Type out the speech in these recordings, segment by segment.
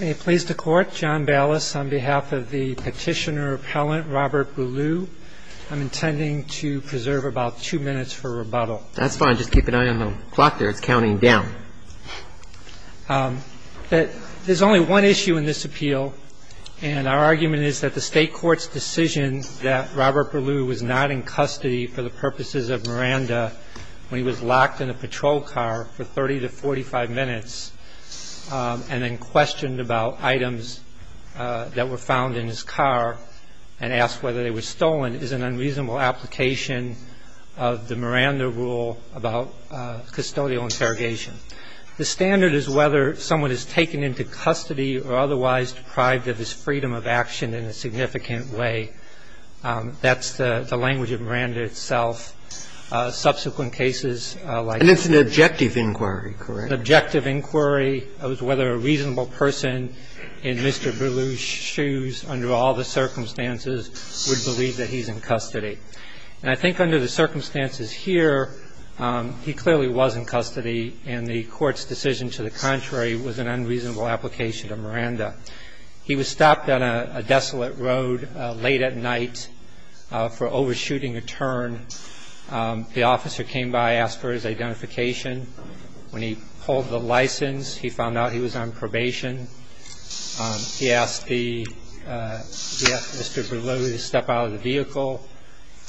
On behalf of the Petitioner-Appellant Robert Burlew, I'm intending to preserve about two minutes for rebuttal. That's fine. Just keep an eye on the clock there. It's counting down. There's only one issue in this appeal, and our argument is that the State Court's decision that Robert Burlew was not in custody for the purposes of Miranda when he was locked in a patrol car for 30 to 45 minutes and then questioned about items that were found in his car and asked whether they were stolen is an unreasonable application of the Miranda rule about custodial interrogation. The standard is whether someone is taken into custody or otherwise deprived of his freedom of action in a significant way. That's the language of Miranda itself. Subsequent cases like this. And it's an objective inquiry, correct? It's an objective inquiry as to whether a reasonable person in Mr. Burlew's shoes under all the circumstances would believe that he's in custody. And I think under the circumstances here, he clearly was in custody, and the Court's decision to the contrary was an unreasonable application to Miranda. He was stopped on a desolate road late at night for overshooting a turn. The officer came by, asked for his identification. When he pulled the license, he found out he was on probation. He asked Mr. Burlew to step out of the vehicle.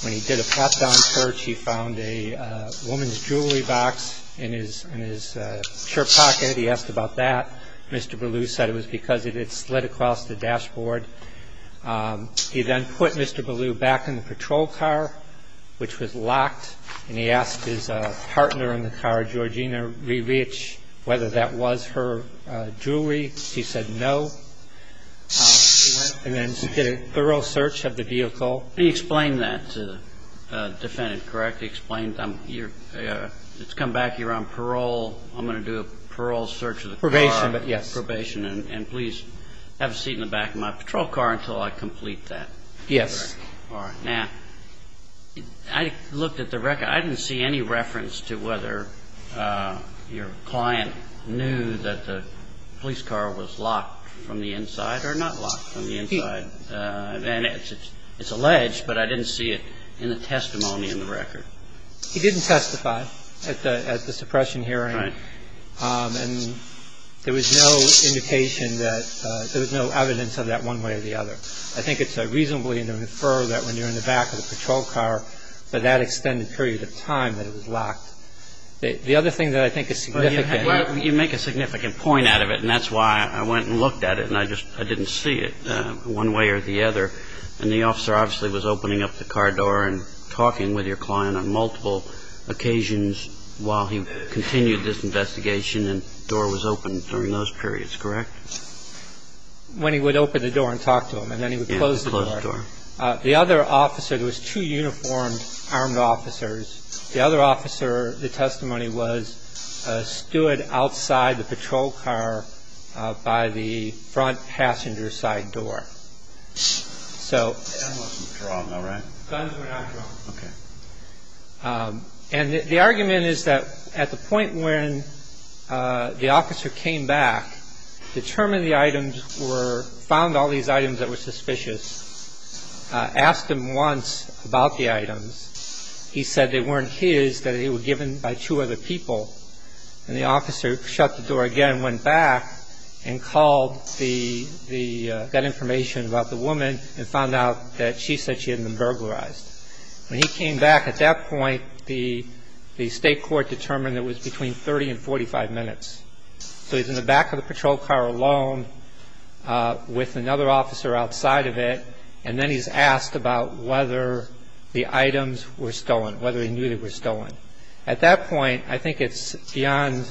When he did a pat-down search, he found a woman's jewelry box in his shirt pocket. He asked about that. He asked Ms. Burlew to step out of the vehicle. He was asked to step out of the vehicle. Mr. Burlew said it was because it had slid across the dashboard. He then put Mr. Burlew back in the patrol car, which was locked. And he asked his partner in the car, Georgina Rebich, whether that was her jewelry. She said no. And then did a thorough search of the vehicle. And he explained that to the defendant, correct? He explained, it's come back, you're on parole, I'm going to do a parole search of the car. Probation, but yes. Probation, and please have a seat in the back of my patrol car until I complete that. Yes. All right. Now, I looked at the record. I didn't see any reference to whether your client knew that the police car was locked from the inside or not locked from the inside. And it's alleged, but I didn't see it in the testimony in the record. He didn't testify at the suppression hearing. Right. And there was no indication that there was no evidence of that one way or the other. I think it's reasonable to infer that when you're in the back of the patrol car for that extended period of time that it was locked. The other thing that I think is significant. You make a significant point out of it, and that's why I went and looked at it, and I didn't see it one way or the other. And the officer obviously was opening up the car door and talking with your client on multiple occasions while he continued this investigation, and the door was open during those periods, correct? When he would open the door and talk to him, and then he would close the door. Yeah, close the door. The other officer, there was two uniformed armed officers. The other officer, the testimony was, stood outside the patrol car by the front passenger side door. So. Guns were not drawn, though, right? Guns were not drawn. Okay. And the argument is that at the point when the officer came back, determined the items were, found all these items that were suspicious, asked him once about the items. He said they weren't his, that they were given by two other people. And the officer shut the door again, went back, and called that information about the woman and found out that she said she had been burglarized. When he came back at that point, the state court determined it was between 30 and 45 minutes. So he's in the back of the patrol car alone with another officer outside of it, and then he's asked about whether the items were stolen, whether he knew they were stolen. At that point, I think it's beyond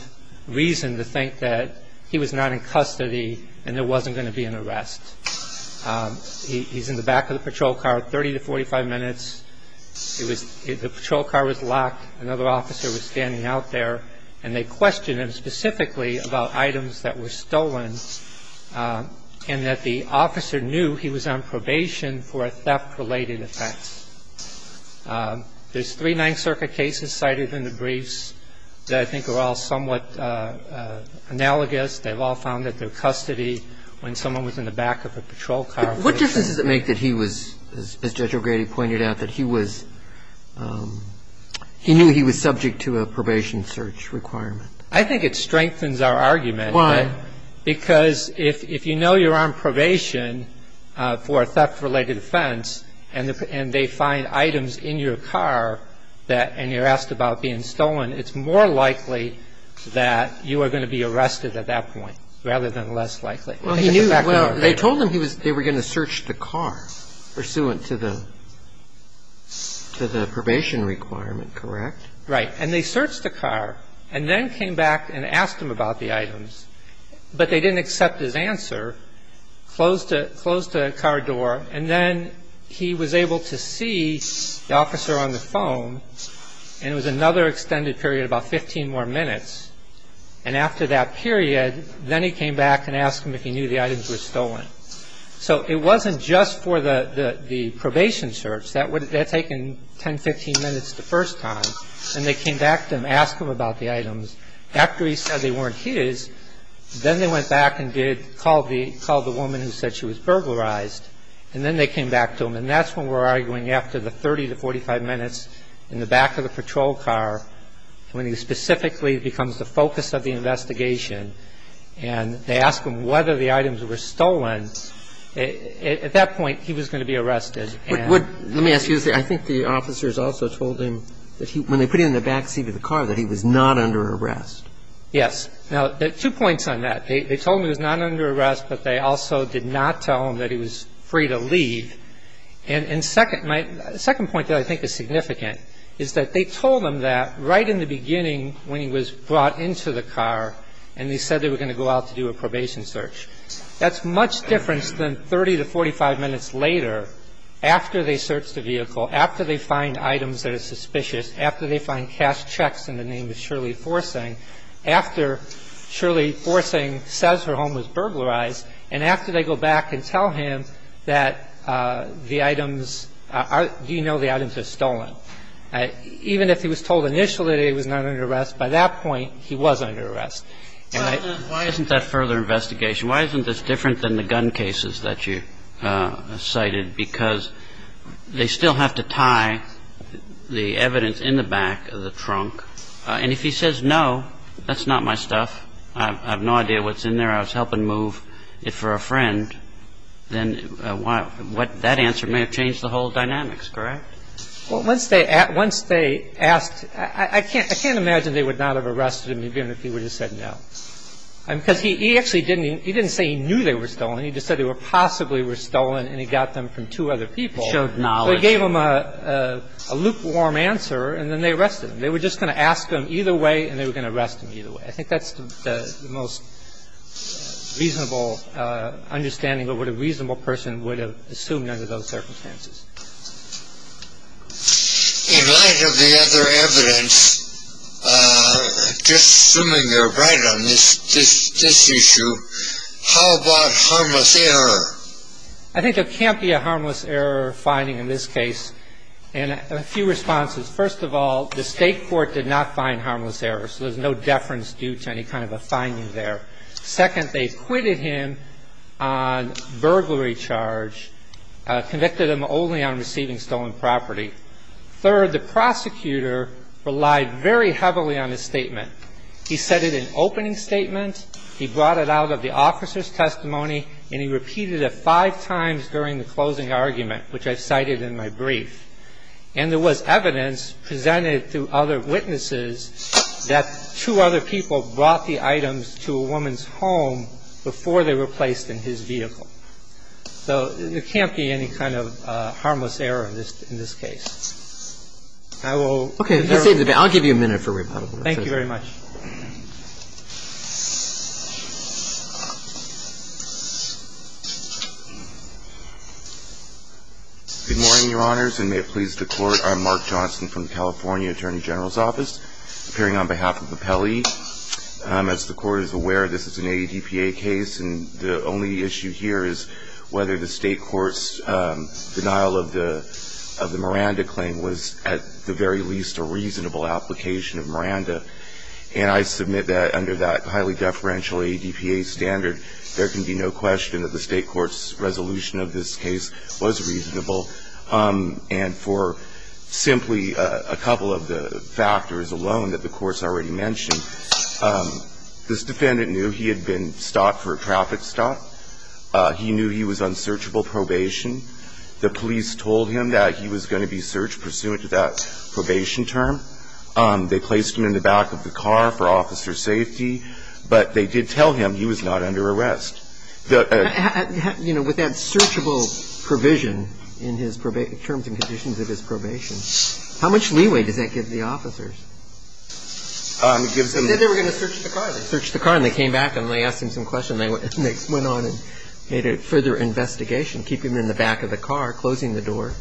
reason to think that he was not in custody and there wasn't going to be an arrest. He's in the back of the patrol car, 30 to 45 minutes. The patrol car was locked. Another officer was standing out there, and they questioned him specifically about items that were stolen and that the officer knew he was on probation for a theft-related offense. There's three Ninth Circuit cases cited in the briefs that I think are all somewhat analogous. They've all found that they're custody when someone was in the back of a patrol car. What difference does it make that he was, as Judge O'Grady pointed out, that he was he knew he was subject to a probation search requirement? I think it strengthens our argument. Why? Because if you know you're on probation for a theft-related offense and they find items in your car and you're asked about being stolen, it's more likely that you are going to be arrested at that point rather than less likely. Well, they told him they were going to search the car pursuant to the probation requirement, correct? Right. And they searched the car and then came back and asked him about the items, but they didn't accept his answer, closed the car door, and then he was able to see the officer on the phone, and it was another extended period, about 15 more minutes. And after that period, then he came back and asked him if he knew the items were stolen. So it wasn't just for the probation search. That would have taken 10, 15 minutes the first time. And they came back to him, asked him about the items. After he said they weren't his, then they went back and did call the woman who said she was burglarized, and then they came back to him. And that's when we're arguing after the 30 to 45 minutes in the back of the patrol car, when he specifically becomes the focus of the investigation, and they ask him whether the items were stolen, at that point he was going to be arrested. And today, again, he does that in test cases either in the premises or outside, they'll take him if they didn't have options later on, and he goes. Let me ask you this. I think the officers also told him that when they put him in the back seat of the car that he was not under arrest. Now, two points on that. They told him he was not under arrest, but they also did not tell him that he was free to leave. And second, my second point that I think is significant is that they told him that right in the beginning when he was brought into the car and they said they were going to go out to do a probation search. That's much different than 30 to 45 minutes later after they search the vehicle, after they find items that are suspicious, after they find cash checks in the name of Shirley Forcing, after Shirley Forcing says her home was burglarized, and after they go back and tell him that the items are – you know the items are stolen. Even if he was told initially that he was not under arrest, by that point, he was under arrest. And I – Kagan. Why isn't that further investigation? Why isn't this different than the gun cases that you cited? Because they still have to tie the evidence in the back of the trunk. And if he says, no, that's not my stuff, I have no idea what's in there, I was helping move it for a friend, then what – that answer may have changed the whole dynamics, correct? Well, once they asked – I can't imagine they would not have arrested him even if he would have said no. Because he actually didn't – he didn't say he knew they were stolen. He just said they possibly were stolen and he got them from two other people. He showed knowledge. They gave him a lukewarm answer and then they arrested him. They were just going to ask him either way and they were going to arrest him either way. I think that's the most reasonable understanding of what a reasonable person would have assumed under those circumstances. In light of the other evidence, just assuming you're right on this issue, how about harmless error? I think there can't be a harmless error finding in this case. And a few responses. First of all, the state court did not find harmless error, so there's no deference due to any kind of a finding there. Second, they acquitted him on burglary charge, convicted him only on receiving stolen property. Third, the prosecutor relied very heavily on his statement. He said it in opening statement, he brought it out of the officer's testimony, and he repeated it five times during the closing argument, which I've cited in my brief. And there was evidence presented to other witnesses that two other people brought the items to a woman's home before they were placed in his vehicle. So there can't be any kind of harmless error in this case. I will defer. Okay. I'll give you a minute for rebuttal. Thank you very much. Good morning, Your Honors, and may it please the Court. I'm Mark Johnson from the California Attorney General's Office, appearing on behalf of Appelli. As the Court is aware, this is an ADPA case, and the only issue here is whether the state court's denial of the Miranda claim was at the very least a reasonable application of Miranda. And I submit that under that highly deferential ADPA standard, there can be no question that the state court's resolution of this case was reasonable. And for simply a couple of the factors alone that the Court's already mentioned, this defendant knew he had been stopped for a traffic stop. He knew he was on searchable probation. The police told him that he was going to be searched pursuant to that probation term. They placed him in the back of the car for officer safety, but they did tell him he was not under arrest. You know, with that searchable provision in his terms and conditions of his probation, how much leeway does that give the officers? They said they were going to search the car. They searched the car, and they came back, and they asked him some questions, and they went on and made a further investigation, keeping him in the back of the car, closing the door.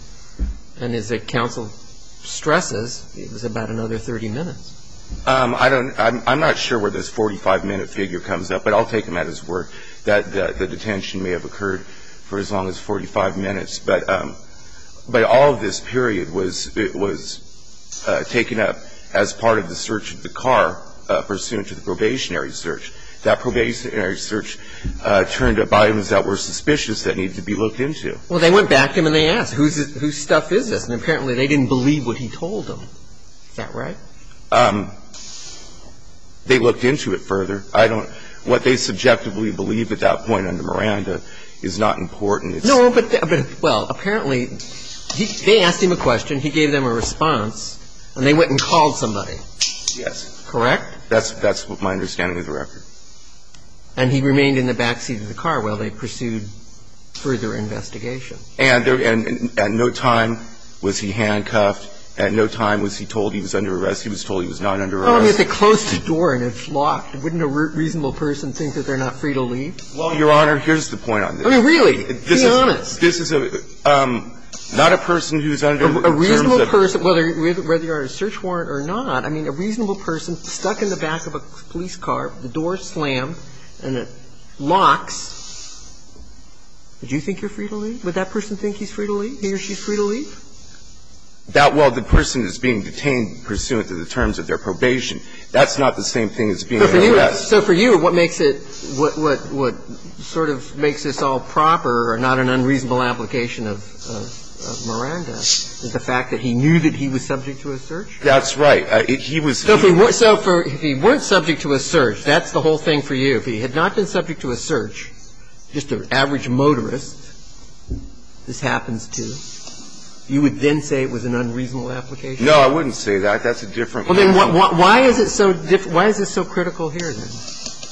And as the counsel stresses, it was about another 30 minutes. I don't know. I'm not sure where this 45-minute figure comes up, but I'll take him at his word that the detention may have occurred for as long as 45 minutes. But all of this period was taken up as part of the search of the car pursuant to the probationary search. That probationary search turned up items that were suspicious that needed to be looked into. Well, they went back to him, and they asked, whose stuff is this? And apparently they didn't believe what he told them. Is that right? They looked into it further. I don't know. What they subjectively believe at that point under Miranda is not important. No, but, well, apparently they asked him a question. He gave them a response, and they went and called somebody. Yes. Correct? That's my understanding of the record. And he remained in the backseat of the car while they pursued further investigation. And at no time was he handcuffed. At no time was he told he was under arrest. He was told he was not under arrest. Well, I mean, if they closed the door and it's locked, wouldn't a reasonable person think that they're not free to leave? Well, Your Honor, here's the point on this. I mean, really. Be honest. This is a – not a person who's under the terms of the court. A reasonable person, whether you're under a search warrant or not, I mean, a reasonable person stuck in the back of a police car, the door is slammed, and it locks. Would you think you're free to leave? Would that person think he's free to leave, he or she's free to leave? That – well, the person is being detained pursuant to the terms of their probation. That's not the same thing as being under arrest. So for you, what makes it – what sort of makes this all proper or not an unreasonable application of Miranda is the fact that he knew that he was subject to a search. That's right. So if he weren't subject to a search, that's the whole thing for you. If he had not been subject to a search, just an average motorist, this happens to, you would then say it was an unreasonable application? No, I wouldn't say that. That's a different point. Well, then why is it so – why is this so critical here, then?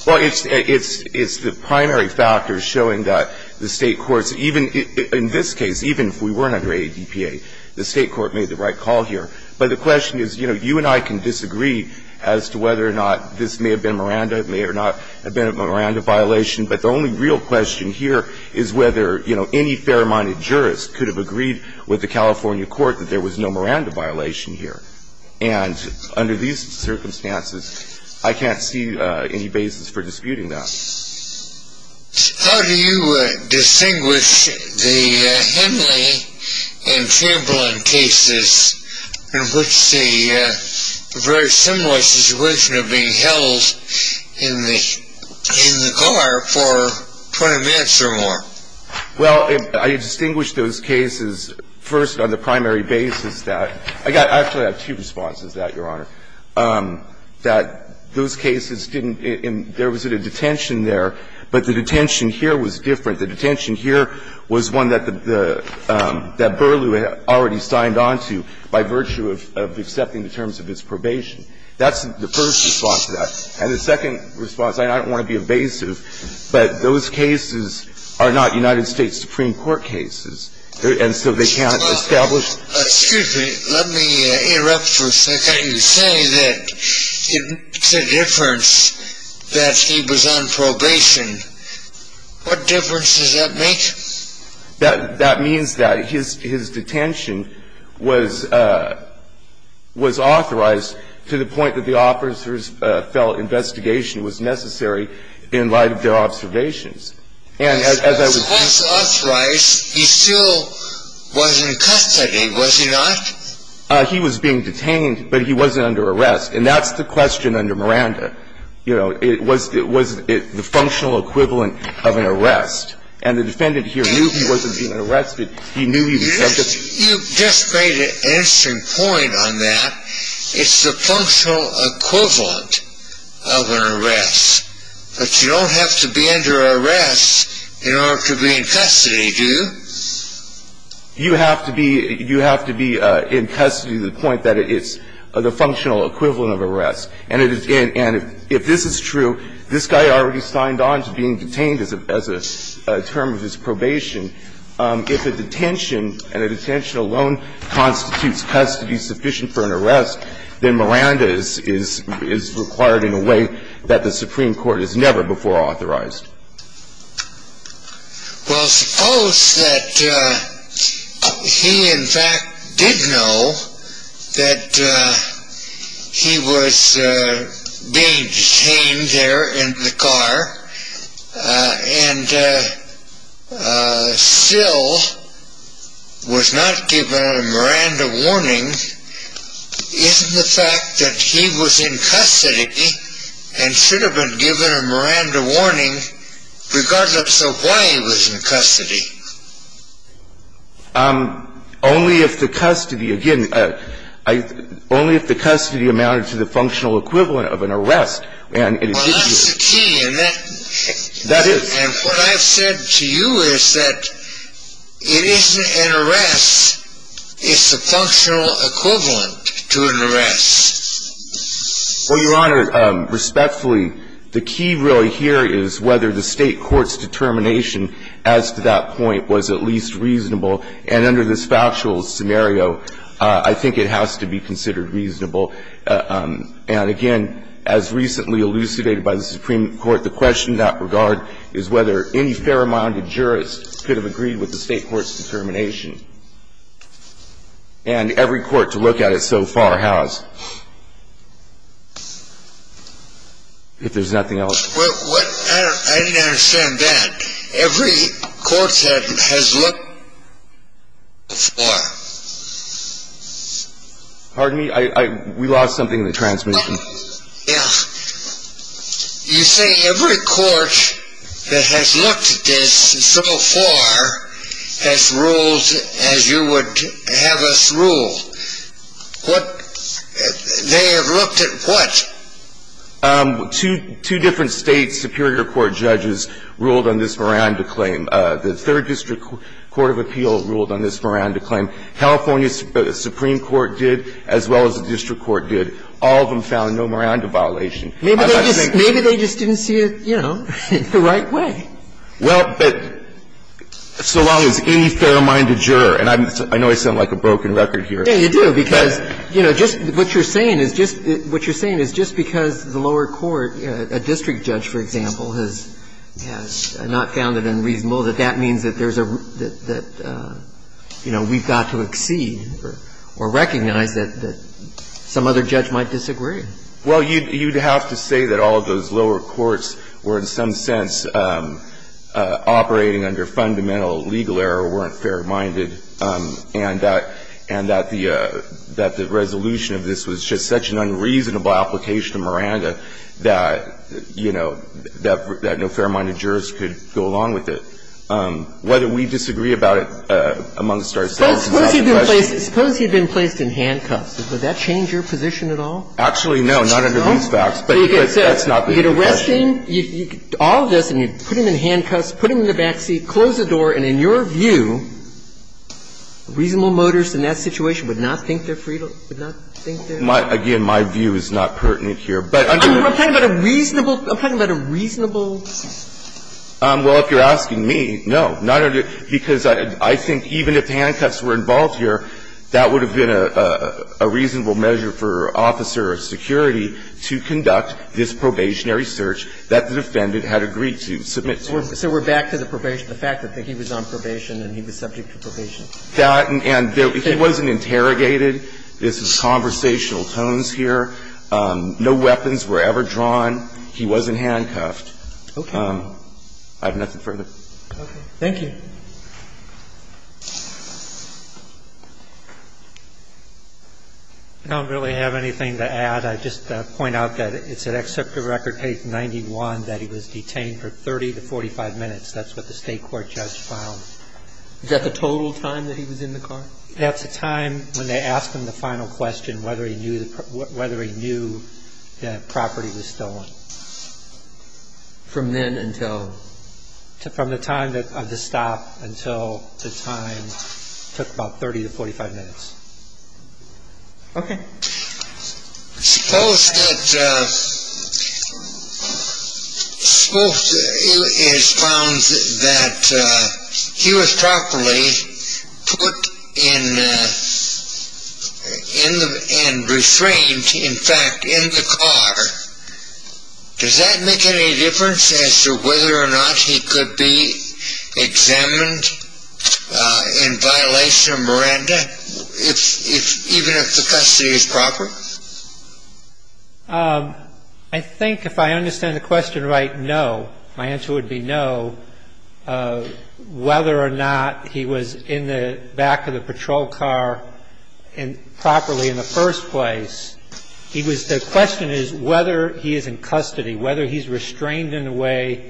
Well, it's – it's the primary factors showing that the State courts, even in this case, even if we weren't under ADPA, the State court made the right call here. But the question is, you know, you and I can disagree as to whether or not this may have been Miranda, may or not have been a Miranda violation. But the only real question here is whether, you know, any fair-minded jurist could have agreed with the California court that there was no Miranda violation here. And under these circumstances, I can't see any basis for disputing that. How do you distinguish the Henley and Chamberlain cases in which the very similar situation of being held in the – in the car for 20 minutes or more? Well, I distinguish those cases first on the primary basis that – I actually have two responses to that, Your Honor. The first response to that is that there was a detention there, but the detention here was different. The detention here was one that the – that Burlew had already signed on to by virtue of accepting the terms of his probation. That's the first response to that. And the second response, and I don't want to be evasive, but those cases are not United States Supreme Court cases, and so they can't establish – Excuse me. Let me interrupt for a second. You say that it's a difference that he was on probation. What difference does that make? That means that his detention was – was authorized to the point that the officers felt investigation was necessary in light of their observations. And as I was – He was authorized. He still was in custody, was he not? He was being detained, but he wasn't under arrest. And that's the question under Miranda. You know, it was – it was the functional equivalent of an arrest. And the defendant here knew he wasn't being arrested. He knew he was subject to – You just – you just made an interesting point on that. It's the functional equivalent of an arrest. But you don't have to be under arrest in order to be in custody, do you? You have to be – you have to be in custody to the point that it's the functional equivalent of an arrest. And it is – and if this is true, this guy already signed on to being detained as a – as a term of his probation. If a detention and a detention alone constitutes custody sufficient for an arrest, then Miranda is required in a way that the Supreme Court has never before authorized. Well, suppose that he, in fact, did know that he was being detained there in the car and still was not given a Miranda warning. Isn't the fact that he was in custody and should have been given a Miranda warning regardless of why he was in custody? Only if the custody – again, only if the custody amounted to the functional equivalent of an arrest. Well, that's the key, isn't it? That is. And what I've said to you is that it isn't an arrest. It's the functional equivalent to an arrest. Well, Your Honor, respectfully, the key really here is whether the State court's determination as to that point was at least reasonable. And under this factual scenario, I think it has to be considered reasonable. And, again, as recently elucidated by the Supreme Court, the question in that regard is whether any fair-minded jurist could have agreed with the State court's determination. And every court to look at it so far has, if there's nothing else. I didn't understand that. Every court has looked at it so far. Pardon me? We lost something in the transmission. Yeah. You say every court that has looked at this so far has ruled as you would have us rule. They have looked at what? Two different State superior court judges ruled on this Miranda claim. The third district court of appeal ruled on this Miranda claim. California's Supreme Court did, as well as the district court did. All of them found no Miranda violation. Maybe they just didn't see it, you know, the right way. Well, but so long as any fair-minded juror, and I know I sound like a broken record here. Yeah, you do, because, you know, just what you're saying is just because the lower court, a district judge, for example, has not found it unreasonable that that means that there's a, that, you know, we've got to exceed or recognize that some other judge might disagree. Well, you'd have to say that all of those lower courts were in some sense operating under fundamental legal error, weren't fair-minded, and that the resolution of this was just such an unreasonable application to Miranda that, you know, that no fair-minded jurors could go along with it. Whether we disagree about it amongst ourselves is not the question. Suppose he had been placed in handcuffs. Would that change your position at all? Actually, no, not under these facts, but that's not the question. So you get arrested, you get all of this, and you put him in handcuffs, put him in the back seat, close the door, and in your view, reasonable motors in that situation would not think they're freed, would not think they're free? Again, my view is not pertinent here. I'm talking about a reasonable, I'm talking about a reasonable. Well, if you're asking me, no, not under, because I think even if handcuffs were involved here, that would have been a reasonable measure for an officer of security to conduct this probationary search that the defendant had agreed to submit to. So we're back to the fact that he was on probation and he was subject to probation. And he wasn't interrogated. This is conversational tones here. No weapons were ever drawn. He wasn't handcuffed. Okay. I have nothing further. Okay. Thank you. I don't really have anything to add. I'd just point out that it's at Excerpt of Record, page 91, that he was detained for 30 to 45 minutes. That's what the State court judge found. Is that the total time that he was in the car? That's the time when they asked him the final question, whether he knew that property was stolen. From then until? From the time of the stop until the time, took about 30 to 45 minutes. Okay. Suppose that it is found that he was properly put in and restrained, in fact, in the car. Does that make any difference as to whether or not he could be examined in violation of Miranda? Even if the custody is proper? I think if I understand the question right, no. My answer would be no. Whether or not he was in the back of the patrol car properly in the first place, the question is whether he is in custody, whether he's restrained in a way that he's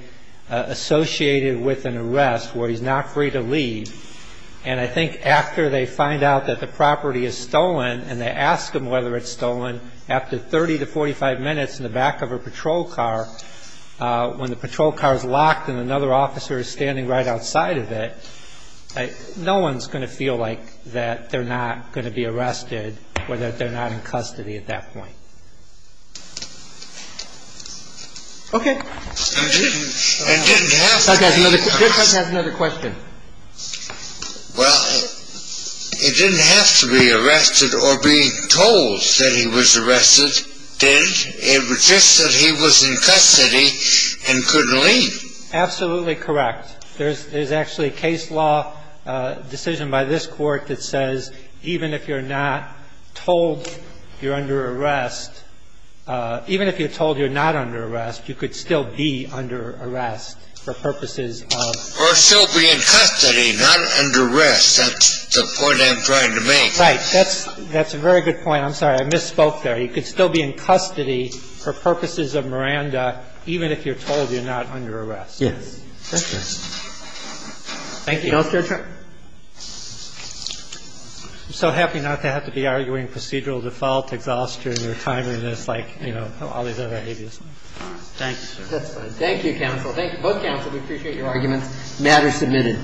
not in custody. And I think after they find out that the property is stolen and they ask him whether it's stolen, after 30 to 45 minutes in the back of a patrol car, when the patrol car is locked and another officer is standing right outside of it, no one's going to feel like that they're not going to be arrested or that they're not in custody at that point. Okay. And didn't have to be arrested. Judge has another question. Well, it didn't have to be arrested or be told that he was arrested, did it? It was just that he was in custody and couldn't leave. Absolutely correct. There's actually a case law decision by this Court that says even if you're not told you're under arrest, even if you're told you're not under arrest, you could still be under arrest for purposes of... Or still be in custody, not under arrest. That's the point I'm trying to make. Right. That's a very good point. I'm sorry. I misspoke there. You could still be in custody for purposes of Miranda even if you're told you're not under arrest. Yes. Thank you. Counselor? I'm so happy not to have to be arguing procedural default, exhaustion or timeliness, like, you know, all these other habeas. Thank you. Thank you, counsel. Thank you, both counsel. We appreciate your arguments. The matter is submitted.